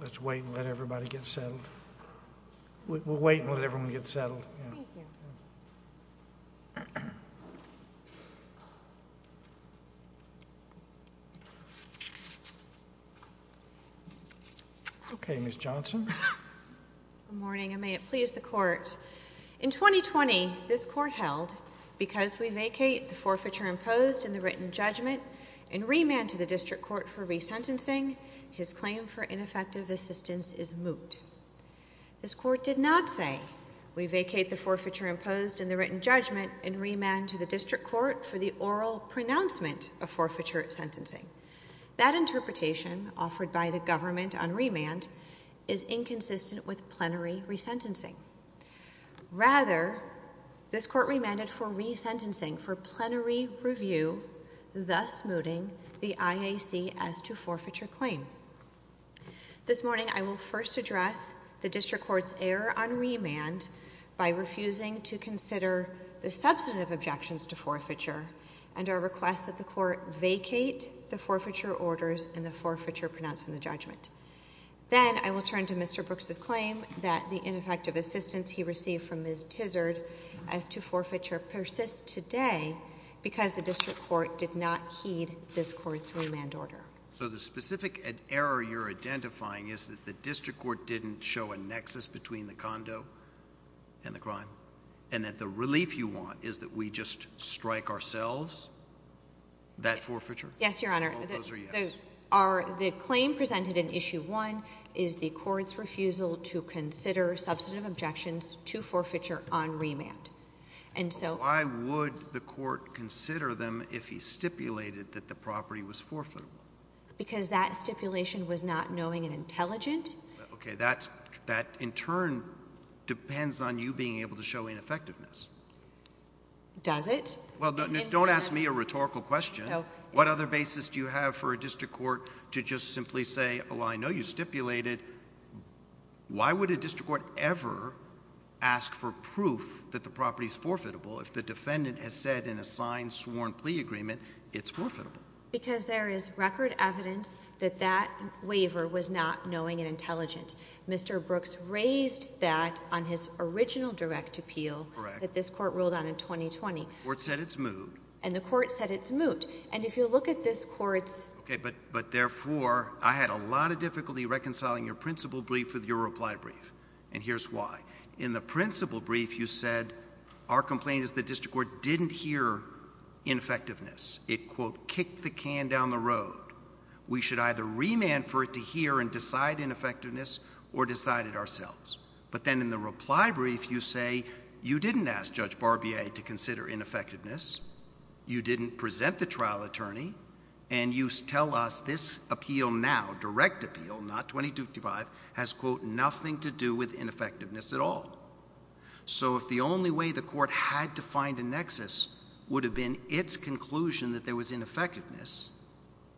Let's wait and let everybody get settled. We'll wait and let everyone get settled. In 2020, this Court held, because we vacate the forfeiture imposed in the written judgment and remand to the District Court for resentencing, his claim for ineffective assistance is moot. This Court did not say, we vacate the forfeiture imposed in the written judgment and remand to the District Court for the oral pronouncement of forfeiture sentencing. That interpretation, offered by the government on remand, is inconsistent with plenary resentencing. Rather, this Court remanded for resentencing for plenary review, thus mooting the IAC as to forfeiture claim. This morning, I will first address the District Court's error on remand by refusing to consider the substantive objections to forfeiture and our request that the Court vacate the forfeiture orders and the forfeiture pronounced in the judgment. Then, I will turn to Mr. Brooks' claim that the ineffective assistance he received from Ms. Tizard as to forfeiture persists today because the District Court did not heed this Court's remand order. So the specific error you're identifying is that the District Court didn't show a nexus between the condo and the crime and that the relief you want is that we just strike ourselves that forfeiture? Yes, Your Honor. Oh, those are yes. The claim presented in Issue 1 is the Court's refusal to consider substantive objections to forfeiture on remand. Why would the Court consider them if he stipulated that the property was forfeitable? Because that stipulation was not knowing and intelligent. Okay, that in turn depends on you being able to show ineffectiveness. Does it? Well, don't ask me a rhetorical question. What other basis do you have for a District Court to just simply say, oh, I know you stipulated. Why would a District Court ever ask for proof that the property is forfeitable if the defendant has said in a signed, sworn plea agreement it's forfeitable? Because there is record evidence that that waiver was not knowing and intelligent. Mr. Brooks raised that on his original direct appeal that this Court ruled on in 2020. The Court said it's moot. And the Court said it's moot. And if you look at this Court's... But therefore, I had a lot of difficulty reconciling your principle brief with your reply brief. And here's why. In the principle brief, you said our complaint is the District Court didn't hear ineffectiveness. It, quote, kicked the can down the road. We should either remand for it to hear and decide ineffectiveness or decide it ourselves. But then in the reply brief, you say you didn't ask Judge Barbier to consider ineffectiveness, you didn't present the trial attorney, and you tell us this appeal now, direct appeal, not 2255, has, quote, nothing to do with ineffectiveness at all. So if the only way the Court had to find a nexus would have been its conclusion that there was ineffectiveness,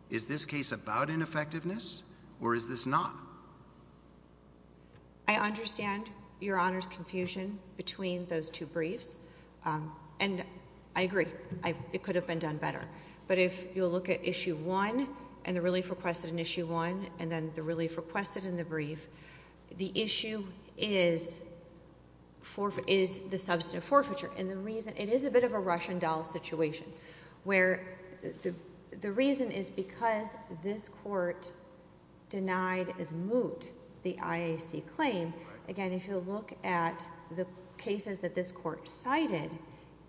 is this case about ineffectiveness or is this not? I understand Your Honor's confusion between those two briefs. And I agree, it could have been done better. But if you'll look at issue one, and the relief requested in issue one, and then the relief requested in the brief, the issue is the substantive forfeiture. And the reason, it is a bit of a Russian doll situation. Where the reason is because this Court denied as moot the IAC claim. Again, if you'll look at the cases that this Court cited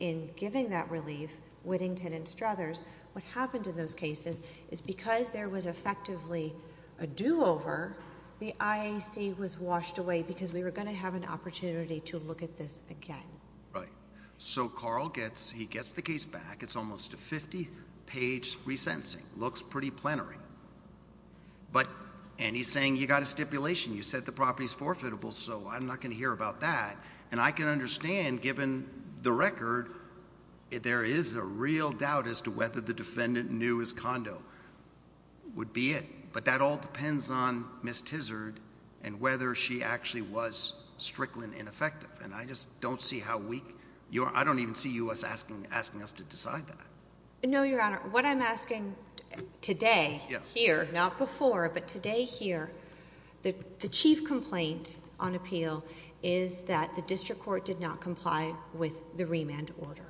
in giving that relief, Whittington and Struthers, what happened in those cases is because there was effectively a do-over, the IAC was washed away because we were going to have an opportunity to look at this again. Right. So Carl gets, he gets the case back. It's almost a 50 page resentencing. Looks pretty plenary. But, and he's saying you got a stipulation. You said the property's forfeitable, so I'm not going to hear about that. And I can understand, given the record, there is a real doubt as to whether the defendant knew his condo would be it. But that all depends on Ms. Tizard and whether she actually was strickland ineffective. And I just don't see how we, your, I don't even see you as asking, asking us to decide that. No, Your Honor. What I'm asking today, here, not before, but today here. The, the chief complaint on appeal is that the district court did not comply with the remand order.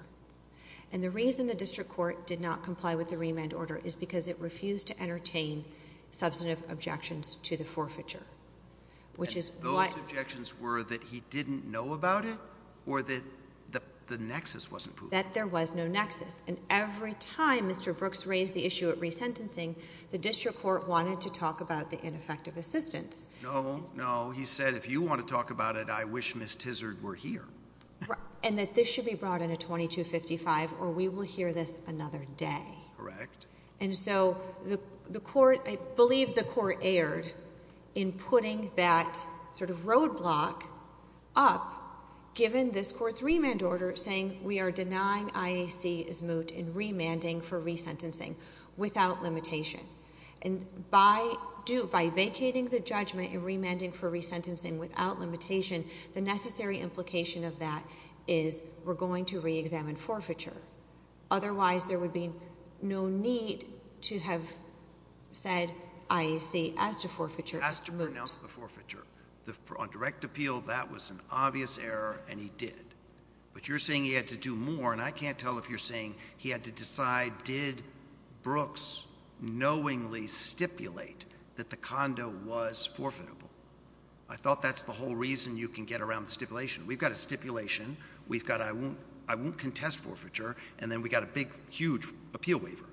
And the reason the district court did not comply with the remand order is because it refused to entertain substantive objections to the forfeiture. Which is what- Those objections were that he didn't know about it? Or that the, the nexus wasn't proven? That there was no nexus. And every time Mr. Brooks raised the issue at resentencing, the district court wanted to talk about the ineffective assistance. No, no, he said, if you want to talk about it, I wish Ms. Tizard were here. Right, and that this should be brought in a 2255, or we will hear this another day. Correct. And so the, the court, I believe the court erred in putting that sort of roadblock up, given this court's remand order, saying we are denying IAC is moot in And by do, by vacating the judgment and remanding for resentencing without limitation, the necessary implication of that is we're going to reexamine forfeiture. Otherwise there would be no need to have said IAC as to forfeiture as moot. As to pronounce the forfeiture. The, on direct appeal, that was an obvious error, and he did. But you're saying he had to do more, and I can't tell if you're saying he had to knowingly stipulate that the condo was forfeitable. I thought that's the whole reason you can get around the stipulation. We've got a stipulation. We've got, I won't, I won't contest forfeiture, and then we got a big, huge appeal waiver.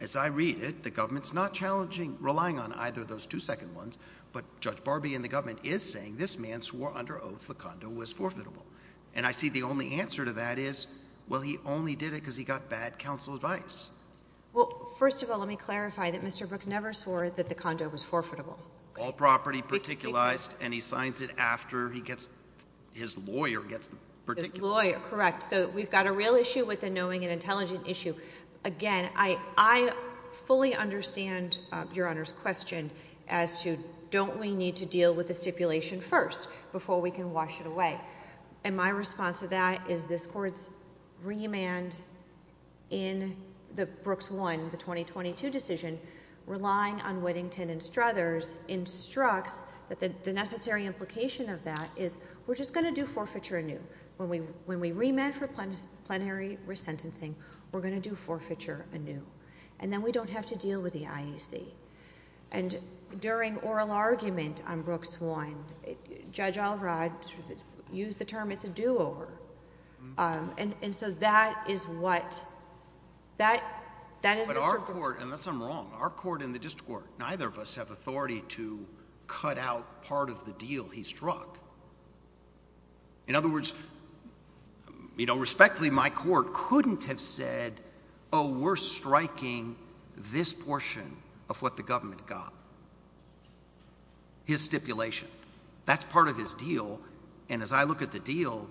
As I read it, the government's not challenging, relying on either of those two second ones. But Judge Barbee and the government is saying this man swore under oath the condo was forfeitable, and I see the only answer to that is, well, he only did it because he got bad counsel advice. Well, first of all, let me clarify that Mr. Brooks never swore that the condo was forfeitable. All property particularized, and he signs it after he gets, his lawyer gets particular. His lawyer, correct. So we've got a real issue with the knowing and intelligent issue. Again, I, I fully understand your Honor's question as to, don't we need to deal with the stipulation first before we can wash it away? And my response to that is this court's remand in the Brooks One, the 2022 decision, relying on Whittington and Struthers, instructs that the necessary implication of that is, we're just gonna do forfeiture anew. When we, when we remand for plenary resentencing, we're gonna do forfeiture anew. And then we don't have to deal with the IEC. And during oral argument on Brooks One, Judge Alrod, used the term, it's a do-over, and, and so that is what, that, that is- But our court, unless I'm wrong, our court and the district court, neither of us have authority to cut out part of the deal he struck. In other words, you know, respectfully, my court couldn't have said, oh, we're striking this portion of what the government got. His stipulation, that's part of his deal. And as I look at the deal,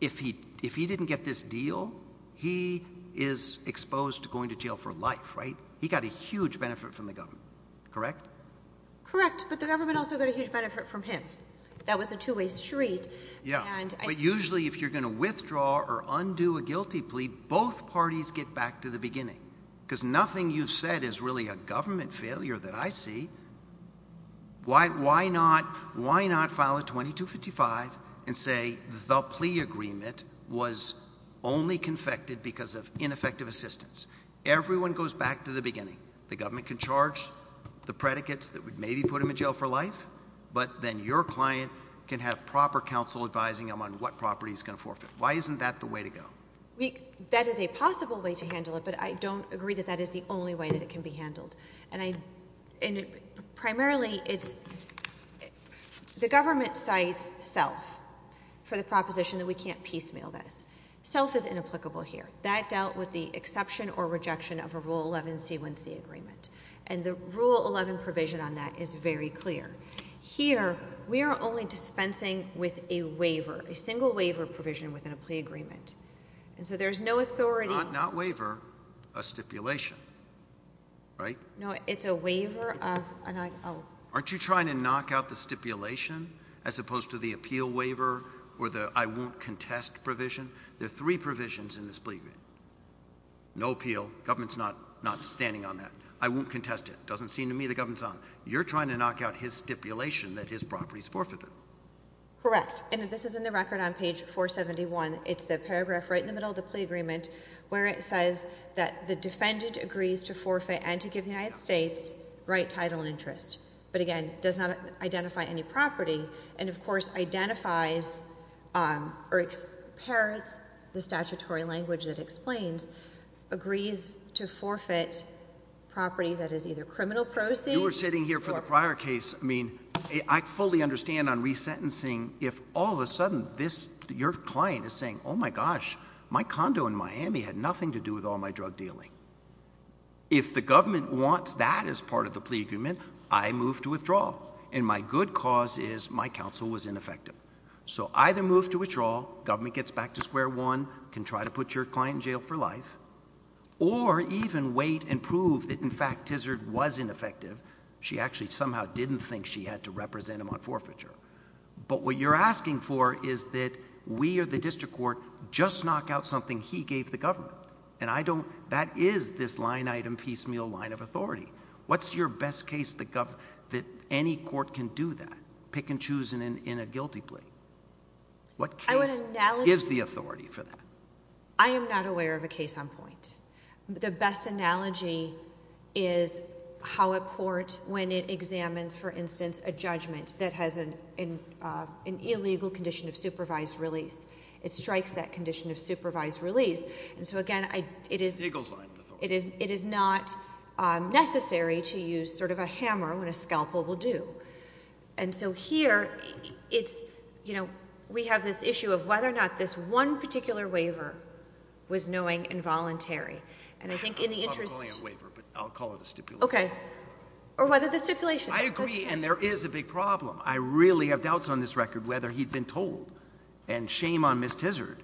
if he, if he didn't get this deal, he is exposed to going to jail for life, right? He got a huge benefit from the government, correct? Correct, but the government also got a huge benefit from him. That was a two-way street. Yeah, but usually if you're gonna withdraw or undo a guilty plea, both parties get back to the beginning. Cuz nothing you've said is really a government failure that I see. Why, why not, why not file a 2255 and say the plea agreement was only confected because of ineffective assistance? Everyone goes back to the beginning. The government can charge the predicates that would maybe put him in jail for life, but then your client can have proper counsel advising him on what property he's gonna forfeit. Why isn't that the way to go? We, that is a possible way to handle it, but I don't agree that that is the only way that it can be handled. And I, and it, primarily it's, the government cites self. For the proposition that we can't piecemeal this. Self is inapplicable here. That dealt with the exception or rejection of a rule 11 C1C agreement. And the rule 11 provision on that is very clear. Here, we are only dispensing with a waiver, a single waiver provision within a plea agreement. And so there's no authority. Not, not waiver, a stipulation, right? No, it's a waiver of an, oh. Aren't you trying to knock out the stipulation as opposed to the appeal waiver or the I won't contest provision? There are three provisions in this plea agreement. No appeal, government's not, not standing on that. I won't contest it. Doesn't seem to me the government's on. You're trying to knock out his stipulation that his property's forfeited. Correct. And this is in the record on page 471. It's the paragraph right in the middle of the plea agreement. Where it says that the defendant agrees to forfeit and to give the United States right title and interest. But again, does not identify any property. And of course identifies or parrots the statutory language that explains. Agrees to forfeit property that is either criminal proceeds. You were sitting here for the prior case. I mean, I fully understand on resentencing if all of a sudden this, your client is saying, oh my gosh, my condo in Miami had nothing to do with all my drug dealing, if the government wants that as part of the plea agreement, I move to withdraw, and my good cause is my counsel was ineffective. So either move to withdraw, government gets back to square one, can try to put your client in jail for life, or even wait and prove that in fact, Tizard was ineffective. She actually somehow didn't think she had to represent him on forfeiture. But what you're asking for is that we or the district court just knock out something he gave the government. And I don't, that is this line item piecemeal line of authority. What's your best case that any court can do that? Pick and choose in a guilty plea. What case gives the authority for that? I am not aware of a case on point. The best analogy is how a court, when it examines, for instance, a judgment that has an illegal condition of supervised release. It strikes that condition of supervised release. And so again, it is- It goes on. It is not necessary to use sort of a hammer when a scalpel will do. And so here, we have this issue of whether or not this one particular waiver was knowing involuntary. And I think in the interest- I'm calling it a waiver, but I'll call it a stipulation. Okay. Or whether the stipulation- I agree, and there is a big problem. I really have doubts on this record whether he'd been told. And shame on Ms. Tizard.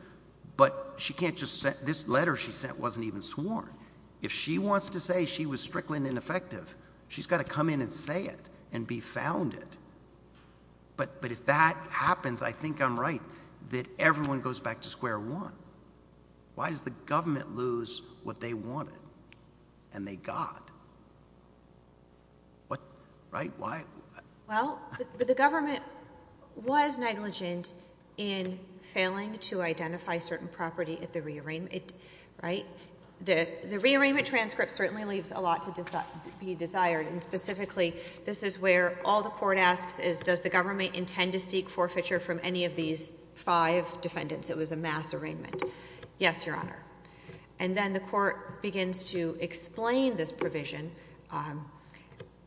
But she can't just, this letter she sent wasn't even sworn. If she wants to say she was strickling ineffective, she's gotta come in and say it and be found it. But if that happens, I think I'm right that everyone goes back to square one. Why does the government lose what they wanted and they got? What, right? Why? Well, the government was negligent in failing to identify certain property at the re-arrangement, right? The re-arrangement transcript certainly leaves a lot to be desired. And specifically, this is where all the court asks is, does the government intend to seek forfeiture from any of these five defendants? It was a mass arraignment. Yes, Your Honor. And then the court begins to explain this provision.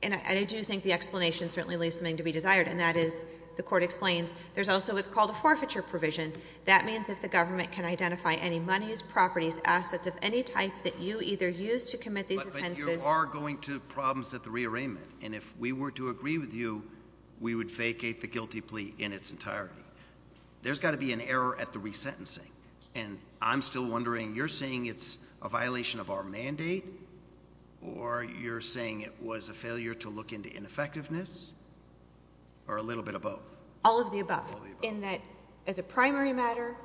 And I do think the explanation certainly leaves something to be desired, and that is, the court explains, there's also what's called a forfeiture provision. That means if the government can identify any monies, properties, assets of any type that you either use to commit these offenses- It's a re-arrangement, and if we were to agree with you, we would vacate the guilty plea in its entirety. There's gotta be an error at the re-sentencing. And I'm still wondering, you're saying it's a violation of our mandate, or you're saying it was a failure to look into ineffectiveness, or a little bit of both? All of the above. In that, as a primary matter,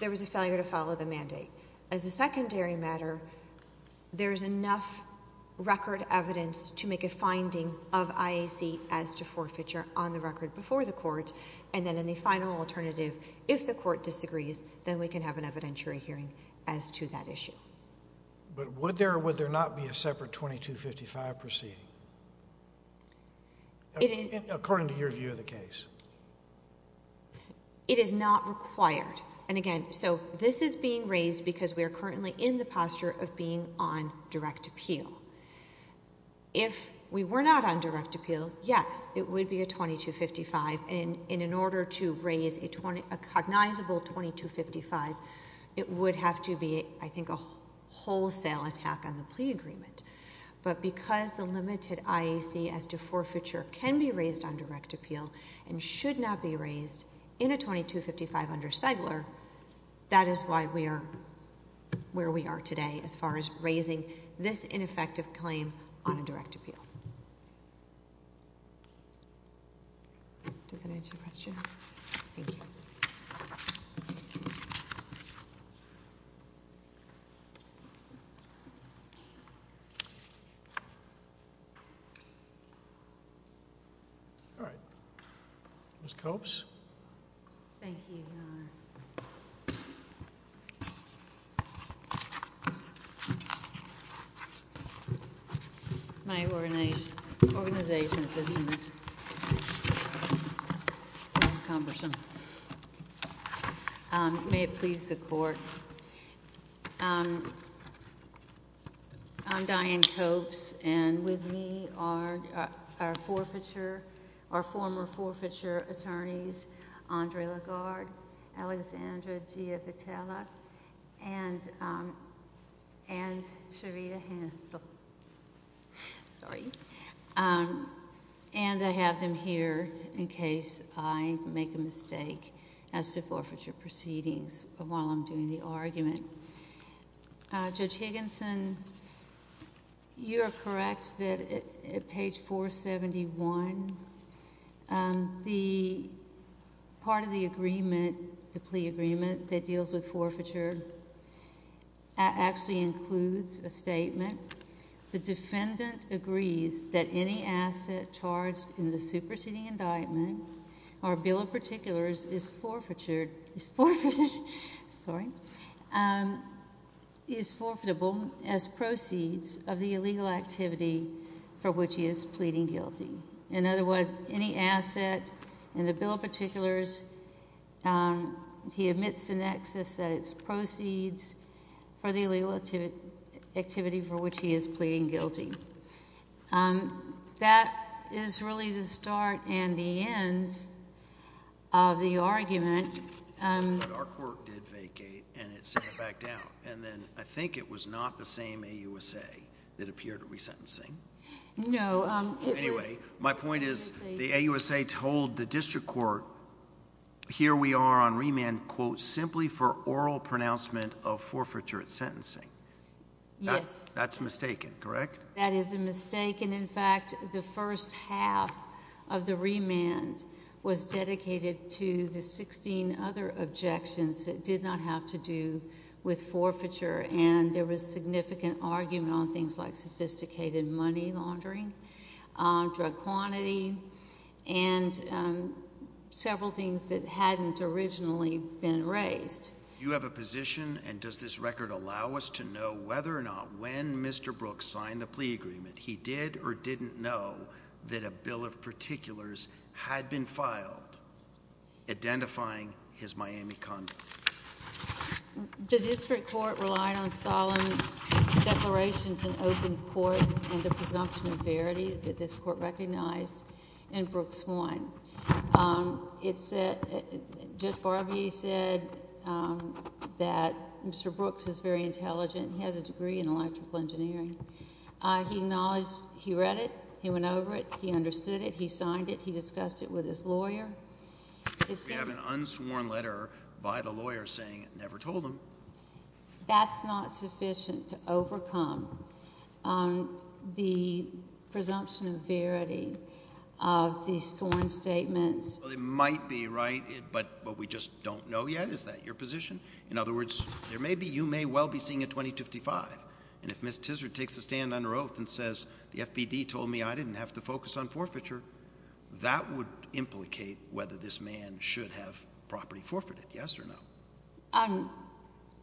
there was a failure to follow the mandate. As a secondary matter, there's enough record evidence to make a finding of IAC as to forfeiture on the record before the court. And then in the final alternative, if the court disagrees, then we can have an evidentiary hearing as to that issue. But would there or would there not be a separate 2255 proceeding, according to your view of the case? It is not required. And again, so this is being raised because we are currently in the posture of being on direct appeal. If we were not on direct appeal, yes, it would be a 2255. And in order to raise a cognizable 2255, it would have to be, I think, a wholesale attack on the plea agreement. But because the limited IAC as to forfeiture can be raised on direct appeal and should not be raised in a 2255 under Stigler, that is why we are where we are today as far as raising this ineffective claim on a direct appeal. Does that answer your question? Thank you. All right, Ms. Copes? Thank you, Your Honor. My organization's system is Thank you. Thank you. Thank you. Thank you. Thank you. Thank you. May it please the Court. I'm Diane Copes, and with me are our forfeiture, our former forfeiture attorneys Andre Lagarde, Alexandra Gia Vitella, and and Charita Hansel. Sorry. And I have them here in case I make a mistake as to forfeiture proceedings while I'm doing the argument. Judge Higginson, you are correct that at page 471, the part of the agreement, the plea agreement that deals with forfeiture actually includes a statement. The defendant agrees that any asset charged in the superseding indictment or bill of particulars is forfeitured sorry is forfeitable as proceeds of the illegal activity for which he is pleading guilty. In other words, any asset in the bill of particulars he admits in excess that it's proceeds for the illegal activity for which he is pleading guilty. That is really the start and the end of the argument. But our court did vacate and it sent it back down. And then I think it was not the same AUSA that appeared at resentencing. No. Anyway, my point is the AUSA told the district court here we are on remand quote simply for oral pronouncement of forfeiture at sentencing. Yes. That's mistaken, correct? That is a mistake and in fact the first half of the remand was dedicated to the 16 other objections that did not have to do with forfeiture and there was significant argument on things like sophisticated money laundering drug quantity and several things that hadn't originally been raised. You have a position and does this record allow us to know whether or not when Mr. Brooks signed the plea agreement he did or didn't know that a bill of particulars had been filed identifying his Miami condo? The district court relied on solemn declarations in open court and the presumption of verity that this court recognized and Brooks won. Judge Barbier said that Mr. Brooks is very intelligent. He has a degree in electrical engineering. He read it. He went over it. He understood it. He signed it. He discussed it with his lawyer. We have an unsworn letter by the lawyer saying it never told him. That's not sufficient to overcome the presumption of verity of these sworn statements. It might be right but we just don't know yet. Is that your position? In other words, you may well be seeing a 2055 and if Ms. Tizard takes a stand under oath and says the FBD told me I didn't have to focus on forfeiture that would implicate whether this man should have property forfeited. Yes or no?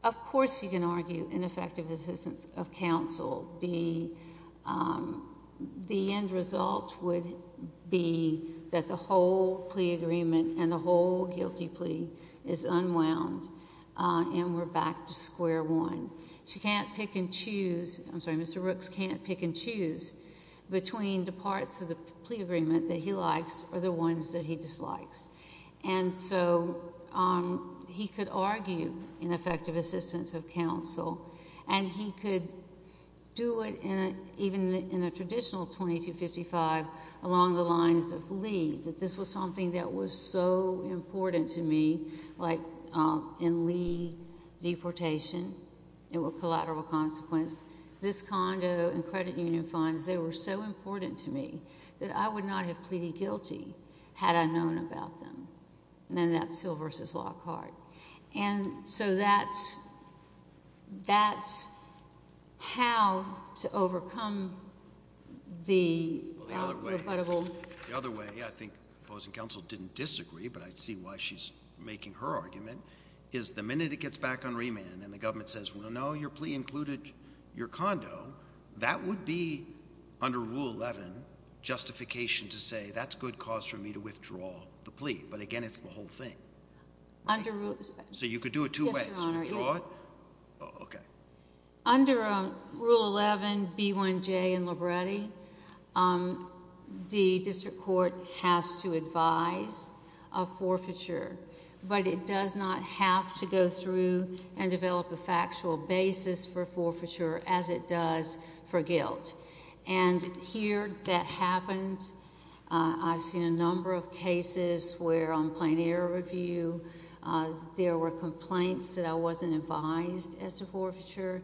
Of course you can argue ineffective assistance of counsel. The end result would be that the whole plea agreement and the whole guilty plea is unwound and we're back to square one. Mr. Brooks can't pick and choose between the parts of the plea agreement that he likes or the ones that he dislikes. And so he could argue ineffective assistance of counsel and he could do it even in a traditional 2255 along the lines of Lee that this was something that was so important to me like in Lee deportation it was a collateral consequence. This condo and credit union funds, they were so important to me that I would not have pleaded guilty had I known about them. And that's Hill v. Lockhart. And so that's that's how to overcome the The other way I think opposing counsel didn't disagree but I see why she's making her argument is the minute it gets back on remand and the government says well no your plea included your condo that would be under rule 11 justification to say that's good cause for me to withdraw the plea but again it's the whole thing. So you could do it two ways. Under under rule 11 B1J in Libretti the district court has to advise of forfeiture but it does not have to go through and develop a factual basis for forfeiture as it does for guilt. And here that happens I've seen a number of cases where on plain error review there were complaints that I wasn't advised as to forfeiture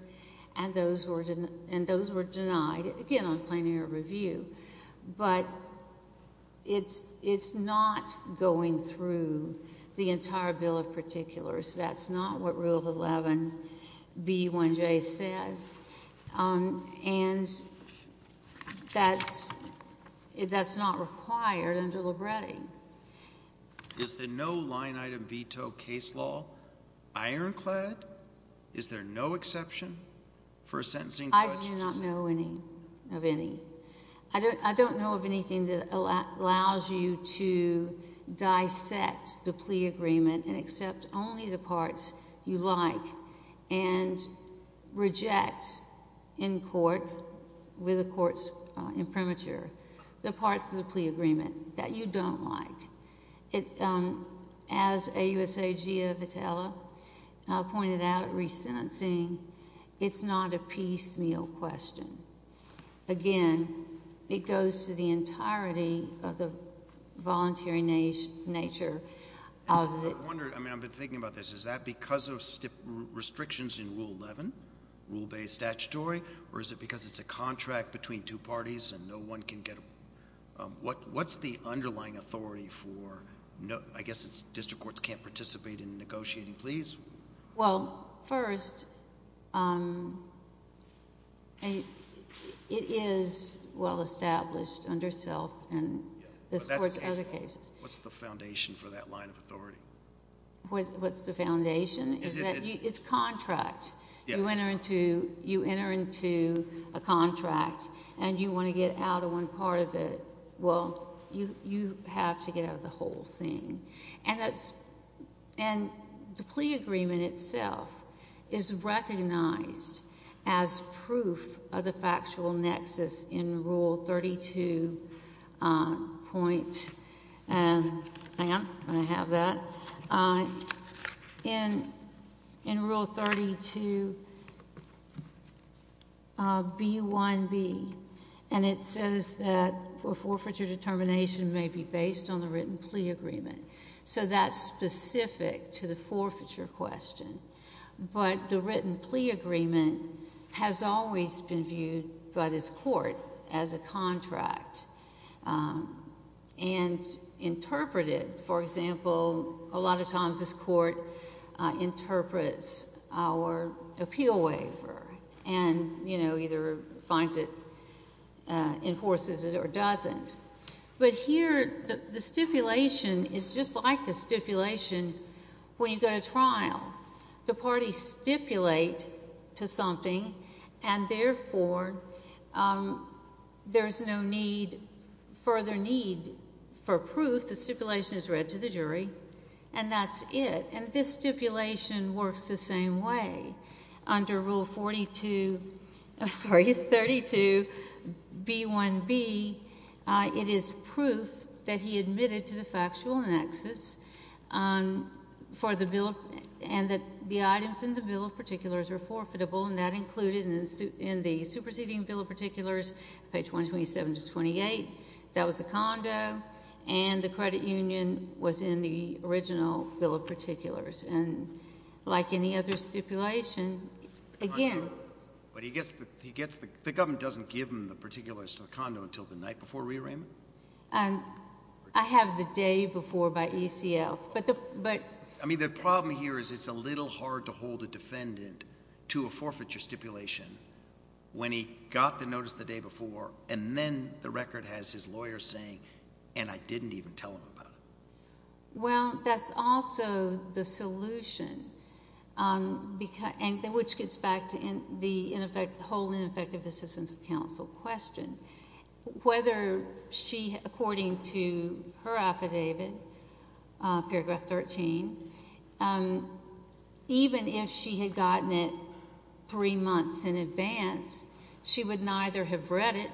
and those were denied again on plain error review but it's not going through the entire bill of particulars. That's not what rule 11 B1J says and that's that's not required under Libretti. Is the no line item veto case law iron clad? Is there no exception for a sentencing? I do not know any of any. I don't know of anything that allows you to dissect the plea agreement and accept only the parts you like and reject in court with the courts in premature the parts of the plea agreement that you don't like. As AUSA Gia Vitella pointed out at resentencing it's not a piecemeal question. Again, it goes to the entirety of the voluntary nature of it. I wonder, I mean I've been thinking about this. Is that because of restrictions in rule 11, rule based statutory or is it because it's a contract between two parties and no one can get... What's the underlying authority for, I guess it's district courts can't participate in negotiating pleas? Well, first it is well established under self and other cases. What's the foundation for that line of authority? What's the foundation? It's contract. You enter into a contract and you want to get out of one part of it. Well, you have to get out of the whole thing. And the plea agreement itself is recognized as proof of the factual nexus in rule 32 point hang on, I have that in rule 32 B1B and it says that for forfeiture determination may be based on the written plea agreement. So that's specific to the forfeiture question. But the written plea agreement has always been viewed by this court as a contract and interpreted, for example, a lot of times this court interprets our appeal waiver and you know, either finds it enforces it or doesn't. But here the stipulation is just like the stipulation when you go to trial. The parties stipulate to something and therefore there's no need, further need for proof. The stipulation is read to the jury and that's it. And this stipulation works the same way. Under rule 42 I'm sorry, 32 B1B it is proof that he admitted to the factual nexus for the bill and that the items in the bill of particulars are forfeitable and that included in the superseding bill of particulars, page 127 to 28, that was the condo and the credit union was in the original bill of particulars and like any other stipulation again... The government doesn't give him the particulars to the condo until the night before rearrangement? I have the day before by ECF but... I mean the problem here is it's a little hard to hold a defendant to a forfeiture stipulation when he got the notice the day before and then the record has his lawyer saying and I didn't even tell him about it. Well, that's also the solution which gets back to the whole ineffective assistance of counsel question. Whether she according to her affidavit, paragraph 13 even if she had gotten it three months in advance, she would neither have read it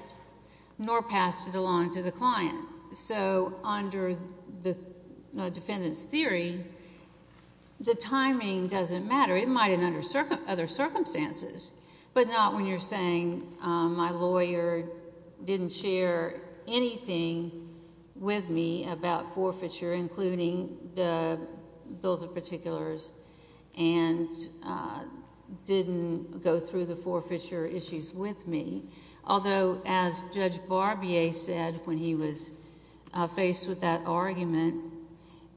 nor passed it along to the client. So under the defendant's theory the timing doesn't matter. It might in other circumstances but not when you're saying my lawyer didn't share anything with me about forfeiture including the bills of particulars and didn't go through the forfeiture issues with me although as Judge Barbier said when he was faced with that argument,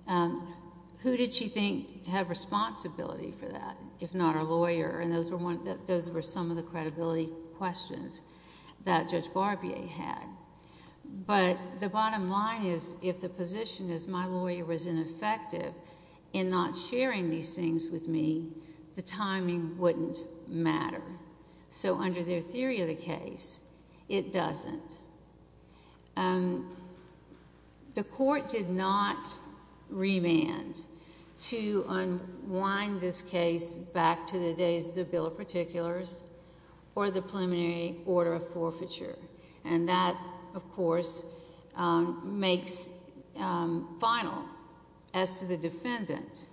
who did she think had responsibility for that if not her lawyer and those were some of the credibility questions that Judge Barbier had. But the bottom line is if the position is my lawyer was ineffective in not sharing these things with me the timing wouldn't matter. So under their theory of the case, it doesn't. The court did not remand to unwind this case back to the days of the bill of particulars or the preliminary order of forfeiture and that of course makes final as to the defendant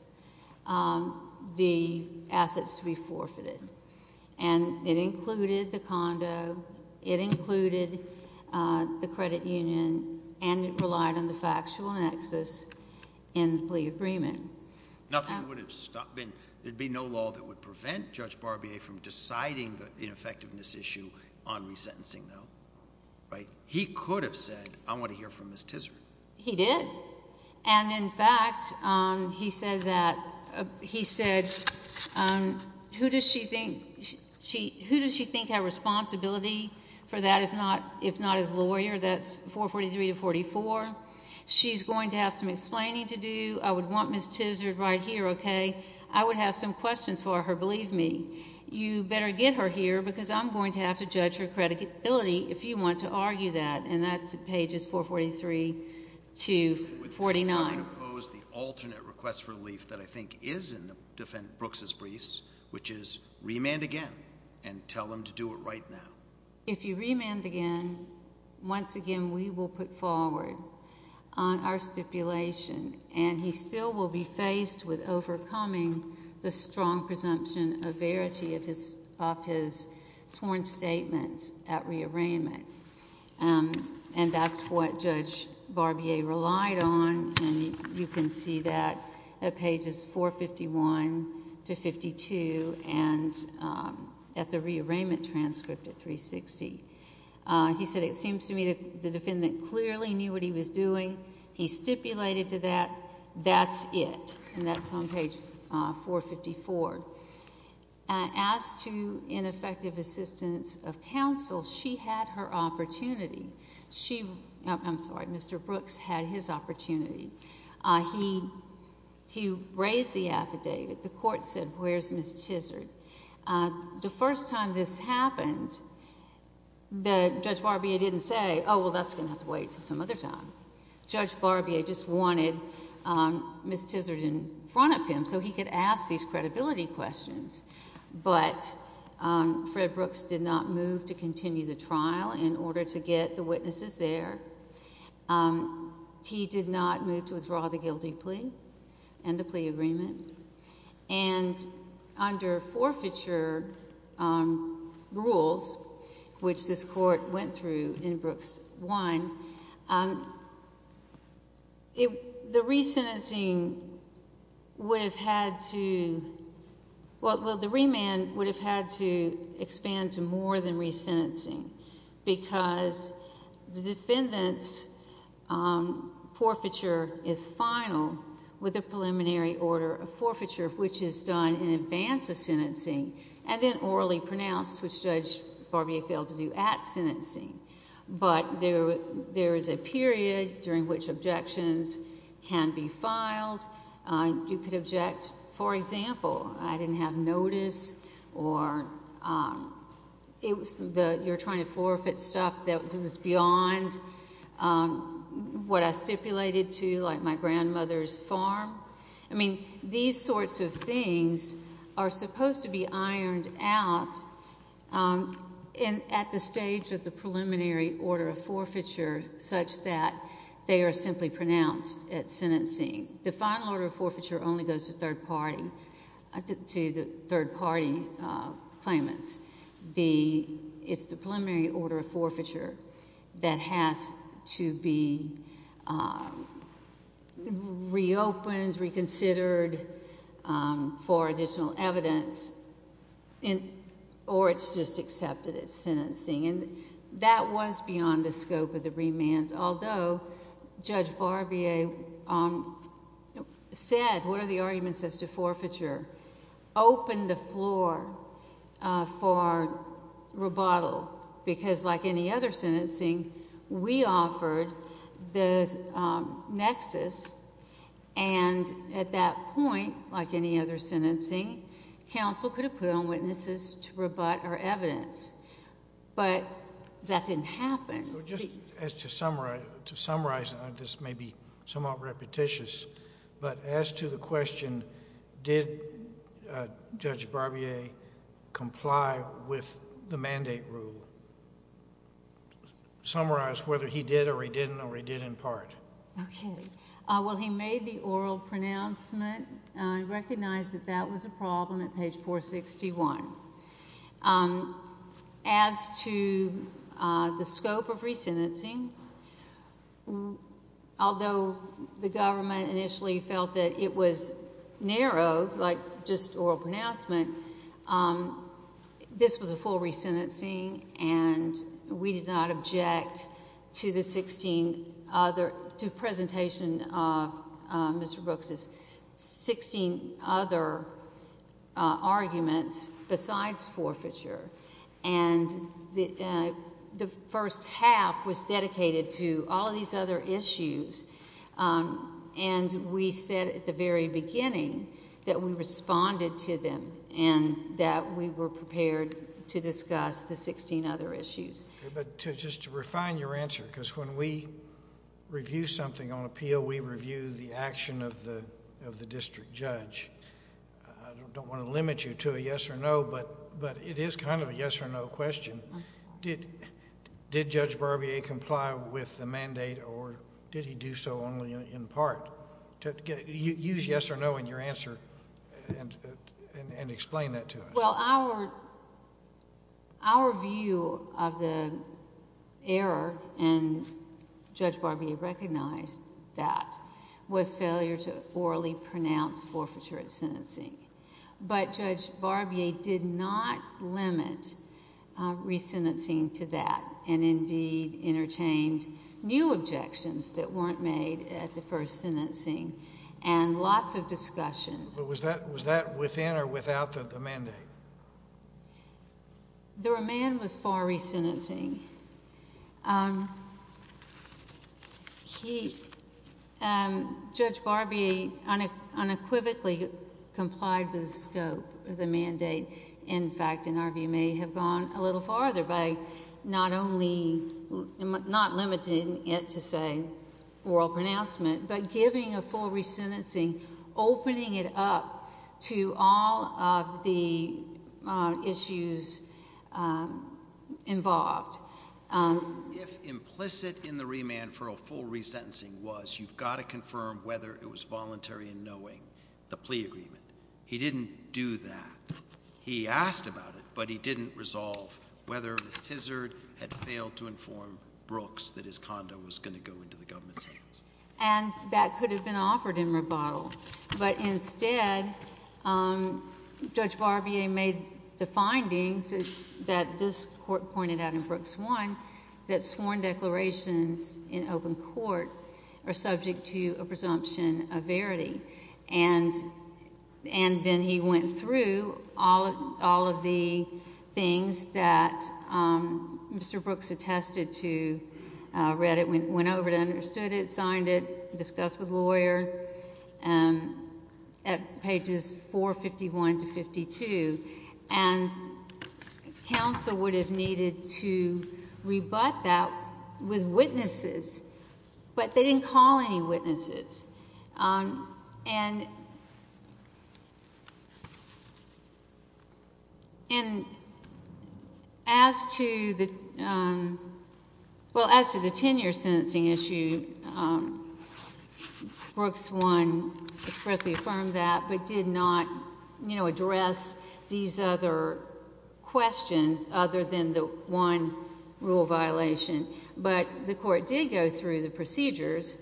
the assets to be forfeited and it included the condo, it included the credit union and it relied on the factual nexus in the plea agreement. There would be no law that would prevent Judge Barbier from deciding the ineffectiveness issue on resentencing though. He could have said I want to hear from Ms. Tisard. He did and in fact he said who does she think has responsibility for that if not his lawyer, that's 443 to 44. She's going to have some explaining to do. I would want Ms. Tisard right here, okay. I would have some questions for her, believe me. You better get her here because I'm going to have to judge her credibility if you want to argue that and that's pages 443 to 49. I would oppose the alternate request for relief that I think is in the defense of Brooks' briefs which is remand again and tell them to do it right now. If you remand again once again we will put forward on our stipulation and he still will be faced with overcoming the strong presumption of verity of his sworn statements at rearrangement and that's what Judge Barbier relied on and you can see that at pages 451 to 52 and at the rearrangement transcript at 360. He said it seems to me that the defendant clearly knew what he was doing. He stipulated to that that's it and that's on page 454. As to ineffective assistance of counsel she had her opportunity. She, I'm sorry, Mr. Brooks had his opportunity. He raised the affidavit. The court said where's Ms. Tizard? The first time this happened Judge Barbier didn't say oh well that's going to have to wait until some other time. Judge Barbier just wanted Ms. Tizard in front of him so he could ask these credibility questions but Fred Brooks did not move to continue the trial in order to get the witnesses there. He did not move to withdraw the guilty plea and the plea agreement and under forfeiture rules which this court went through in Brooks 1 the resentencing would have had to well the remand would have had to expand to more than resentencing because the defendant's forfeiture is final with a preliminary order of forfeiture which is done in advance of sentencing and then orally pronounced which Judge Barbier failed to do at sentencing but there is a period during which objections can be filed you could object for example I didn't have notice or it was you're trying to forfeit stuff that was beyond what I stipulated to like my grandmother's farm I mean these sorts of things are supposed to be ironed out at the stage of the preliminary order of forfeiture such that they are simply pronounced at sentencing the final order of forfeiture only goes to third party to the third party claimants it's the preliminary order of forfeiture that has to be reopened reconsidered for additional evidence or it's just accepted at sentencing and that was beyond the scope of the remand although Judge Barbier said what are the arguments as to forfeiture open the floor for rebuttal because like any other sentencing we offered the nexus and at that point like any other sentencing counsel could have put on witnesses to rebut our evidence but that didn't happen to summarize this may be somewhat repetitious but as to the question did Judge Barbier comply with the mandate rule summarize whether he did or he didn't or he did in part okay well he made the oral pronouncement recognized that that was a problem at page 461 as to the scope of resentencing although the government initially felt that it was narrow like just oral pronouncement this was a full resentencing and we did not object to the presentation of Mr. Brooks's 16 other arguments besides forfeiture and the first half was dedicated to all these other issues and we said at the very beginning that we responded to them and that we were prepared to discuss the 16 other issues but just to refine your answer because when we review something on appeal we review the action of the district judge I don't want to limit you to a yes or no but it is kind of a yes or no question did Judge Barbier comply with the mandate or did he do so only in part use yes or no in your answer and explain that to us well our view of the error and Judge Barbier recognized that was failure to orally pronounce forfeiture at sentencing but Judge Barbier did not limit resentencing to that and indeed interchanged new objections that weren't made at the first sentencing and lots of discussion was that within or without the mandate the remand was far resentencing Judge Barbier unequivocally complied with the scope of the mandate in fact in our view may have gone a little farther by not only not limiting it to say oral pronouncement but giving a full resentencing opening it up to all of the issues involved if implicit in the remand for a full resentencing was you've got to confirm whether it was voluntary in knowing the plea agreement he didn't do that he asked about it but he didn't resolve whether it was tizzard had failed to inform brooks that his condo was going to go into the government's hands and that could have been offered in rebuttal but instead Judge Barbier made the findings that this court that sworn declarations in open court are subject to a presumption of verity and then he went through all of the things that Mr. Brooks attested to read it, went over it, understood it signed it, discussed with lawyer at pages 451 to 52 and counsel would have needed to rebut that with witnesses but they didn't call any witnesses and and as to the well as to the tenure sentencing issue Brooks 1 expressly affirmed that but did not address these other questions other than the one rule violation but the court did go through the procedures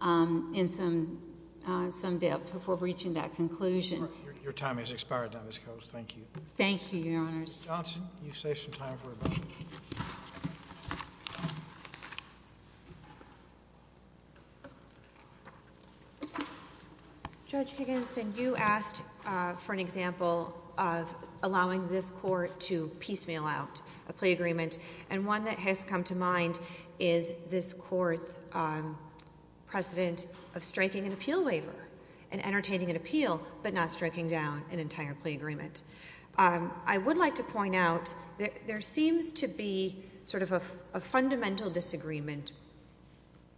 in some depth before reaching that conclusion. Your time has expired now Ms. Coates. Thank you. Thank you your honors. Johnson you saved some time for a moment. Judge Higginson you asked for an example of allowing this court to piecemeal out a plea agreement and one that has come to mind is this court's precedent of striking an appeal waiver and entertaining an appeal but not striking down an entire plea agreement. I would like to point out there seems to be a fundamental disagreement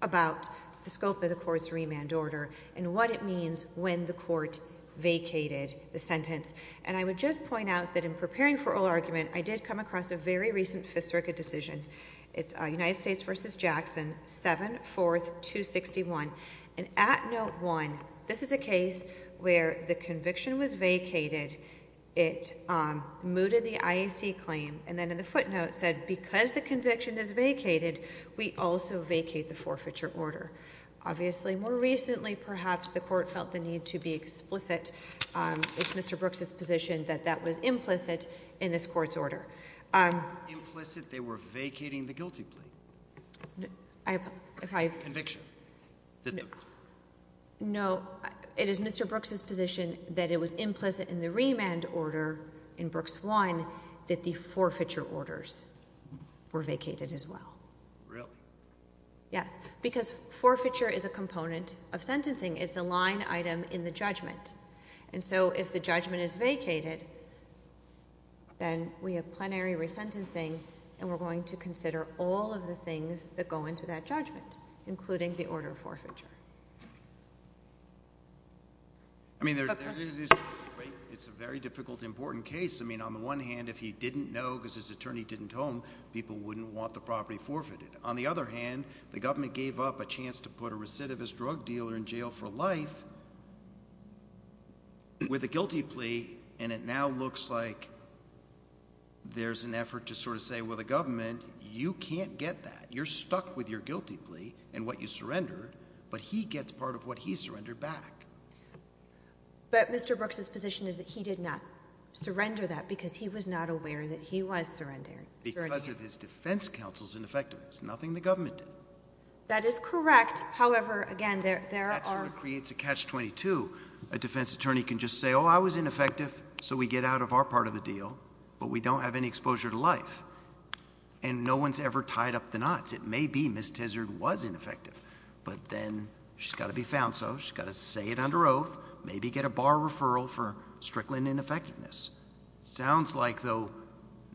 about the scope of the court's remand order and what it means when the court vacated the sentence and I would just point out that in preparing for oral argument I did come across a very recent Fifth Circuit decision. It's United States v. Jackson 7-4-261 and at note one this is a case where the conviction was vacated. It mooted the IAC claim and then in the footnote said because the conviction is vacated we also vacate the forfeiture order. Obviously more recently perhaps the court felt the need to be explicit it's Mr. Brooks' position that that was implicit in this court's order. Implicit they were vacating the guilty plea? Conviction? No. It is Mr. Brooks' position that it was implicit in the remand order in Brooks 1 that the forfeiture orders were vacated as well. Really? Yes. Because forfeiture is a component of sentencing. It's a line item in the judgment and so if the judgment is that the forfeiture order was vacated then we have plenary resentencing and we're going to consider all of the things that go into that judgment including the order of forfeiture. I mean it's a very difficult important case. I mean on the one hand if he didn't know because his attorney didn't home people wouldn't want the property forfeited. On the other hand the government gave up a chance to put a recidivist drug dealer in jail for life with a guilty plea and it now looks like there's an effort to sort of say well the government, you can't get that. You're stuck with your guilty plea and what you surrendered but he gets part of what he surrendered back. But Mr. Brooks' position is that he did not surrender that because he was not aware that he was surrendering. Because of his defense counsel's ineffectiveness. Nothing the government did. That is correct however again there are it creates a catch 22. A defense attorney can just say oh I was ineffective so we get out of our part of the deal but we don't have any exposure to life and no one's ever tied up the knots. It may be Ms. Tizard was ineffective but then she's got to be found so she's got to say it under oath. Maybe get a bar referral for Strickland ineffectiveness. Sounds like though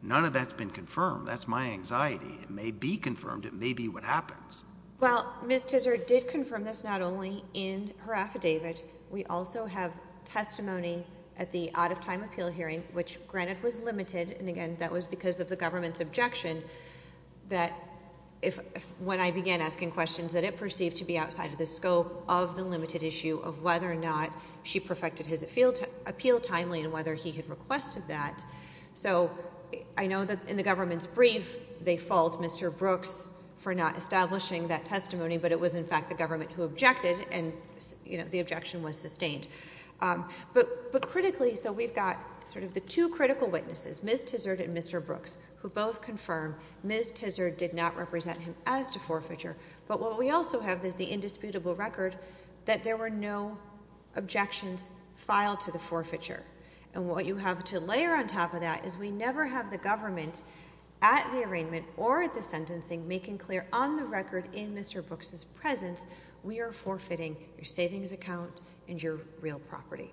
none of that's been confirmed. That's my anxiety. It may be confirmed. It may be what happens. Well Ms. Tizard did confirm this not only in her affidavit. We also have testimony at the out of time appeal hearing which granted was limited and again that was because of the government's objection that when I began asking questions that it perceived to be outside of the scope of the limited issue of whether or not she perfected his appeal timely and whether he had requested that. So I know that in the government's brief they fault Mr. Brooks for not having any evidence to support the fact that the government who objected and the objection was sustained. But critically so we've got sort of the two critical witnesses, Ms. Tizard and Mr. Brooks who both confirm Ms. Tizard did not represent him as to forfeiture but what we also have is the indisputable record that there were no objections filed to the forfeiture and what you have to layer on top of that is we never have the government at the arraignment or at the sentencing making clear on the record in Mr. Brooks' presence we are forfeiting your savings account and your real property.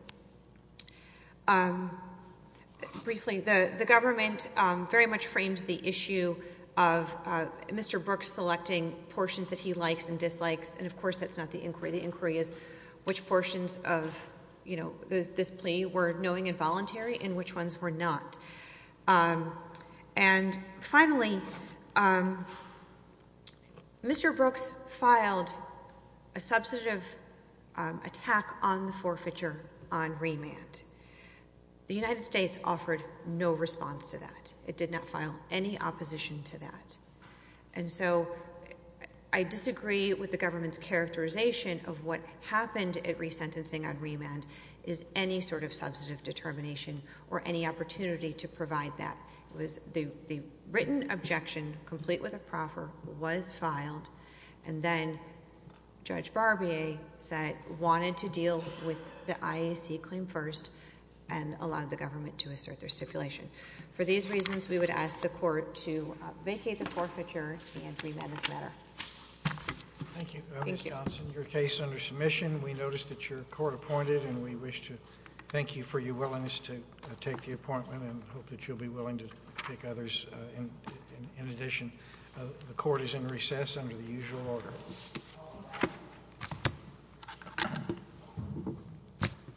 Briefly the government very much frames the issue of Mr. Brooks selecting portions that he likes and dislikes and of course that's not the inquiry. The inquiry is which portions of this plea were knowing and voluntary and which ones were not. And finally Mr. Brooks filed a substantive attack on the forfeiture on remand. The United States offered no response to that. It did not file any opposition to that. And so I disagree with the government's characterization of what happened at resentencing on remand is any sort of substantive determination or any opportunity to provide that. The written objection complete with a proffer was filed and then Judge Barbier said wanted to deal with the IAC claim first and allowed the government to assert their stipulation. For these reasons we would ask the court to vacate the forfeiture and remand this matter. Thank you. Ms. Thompson, your case under submission we noticed that your court appointed and we wish to for your willingness to take the appointment and hope that you'll be willing to take others in addition. The court is in recess under the usual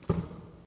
order.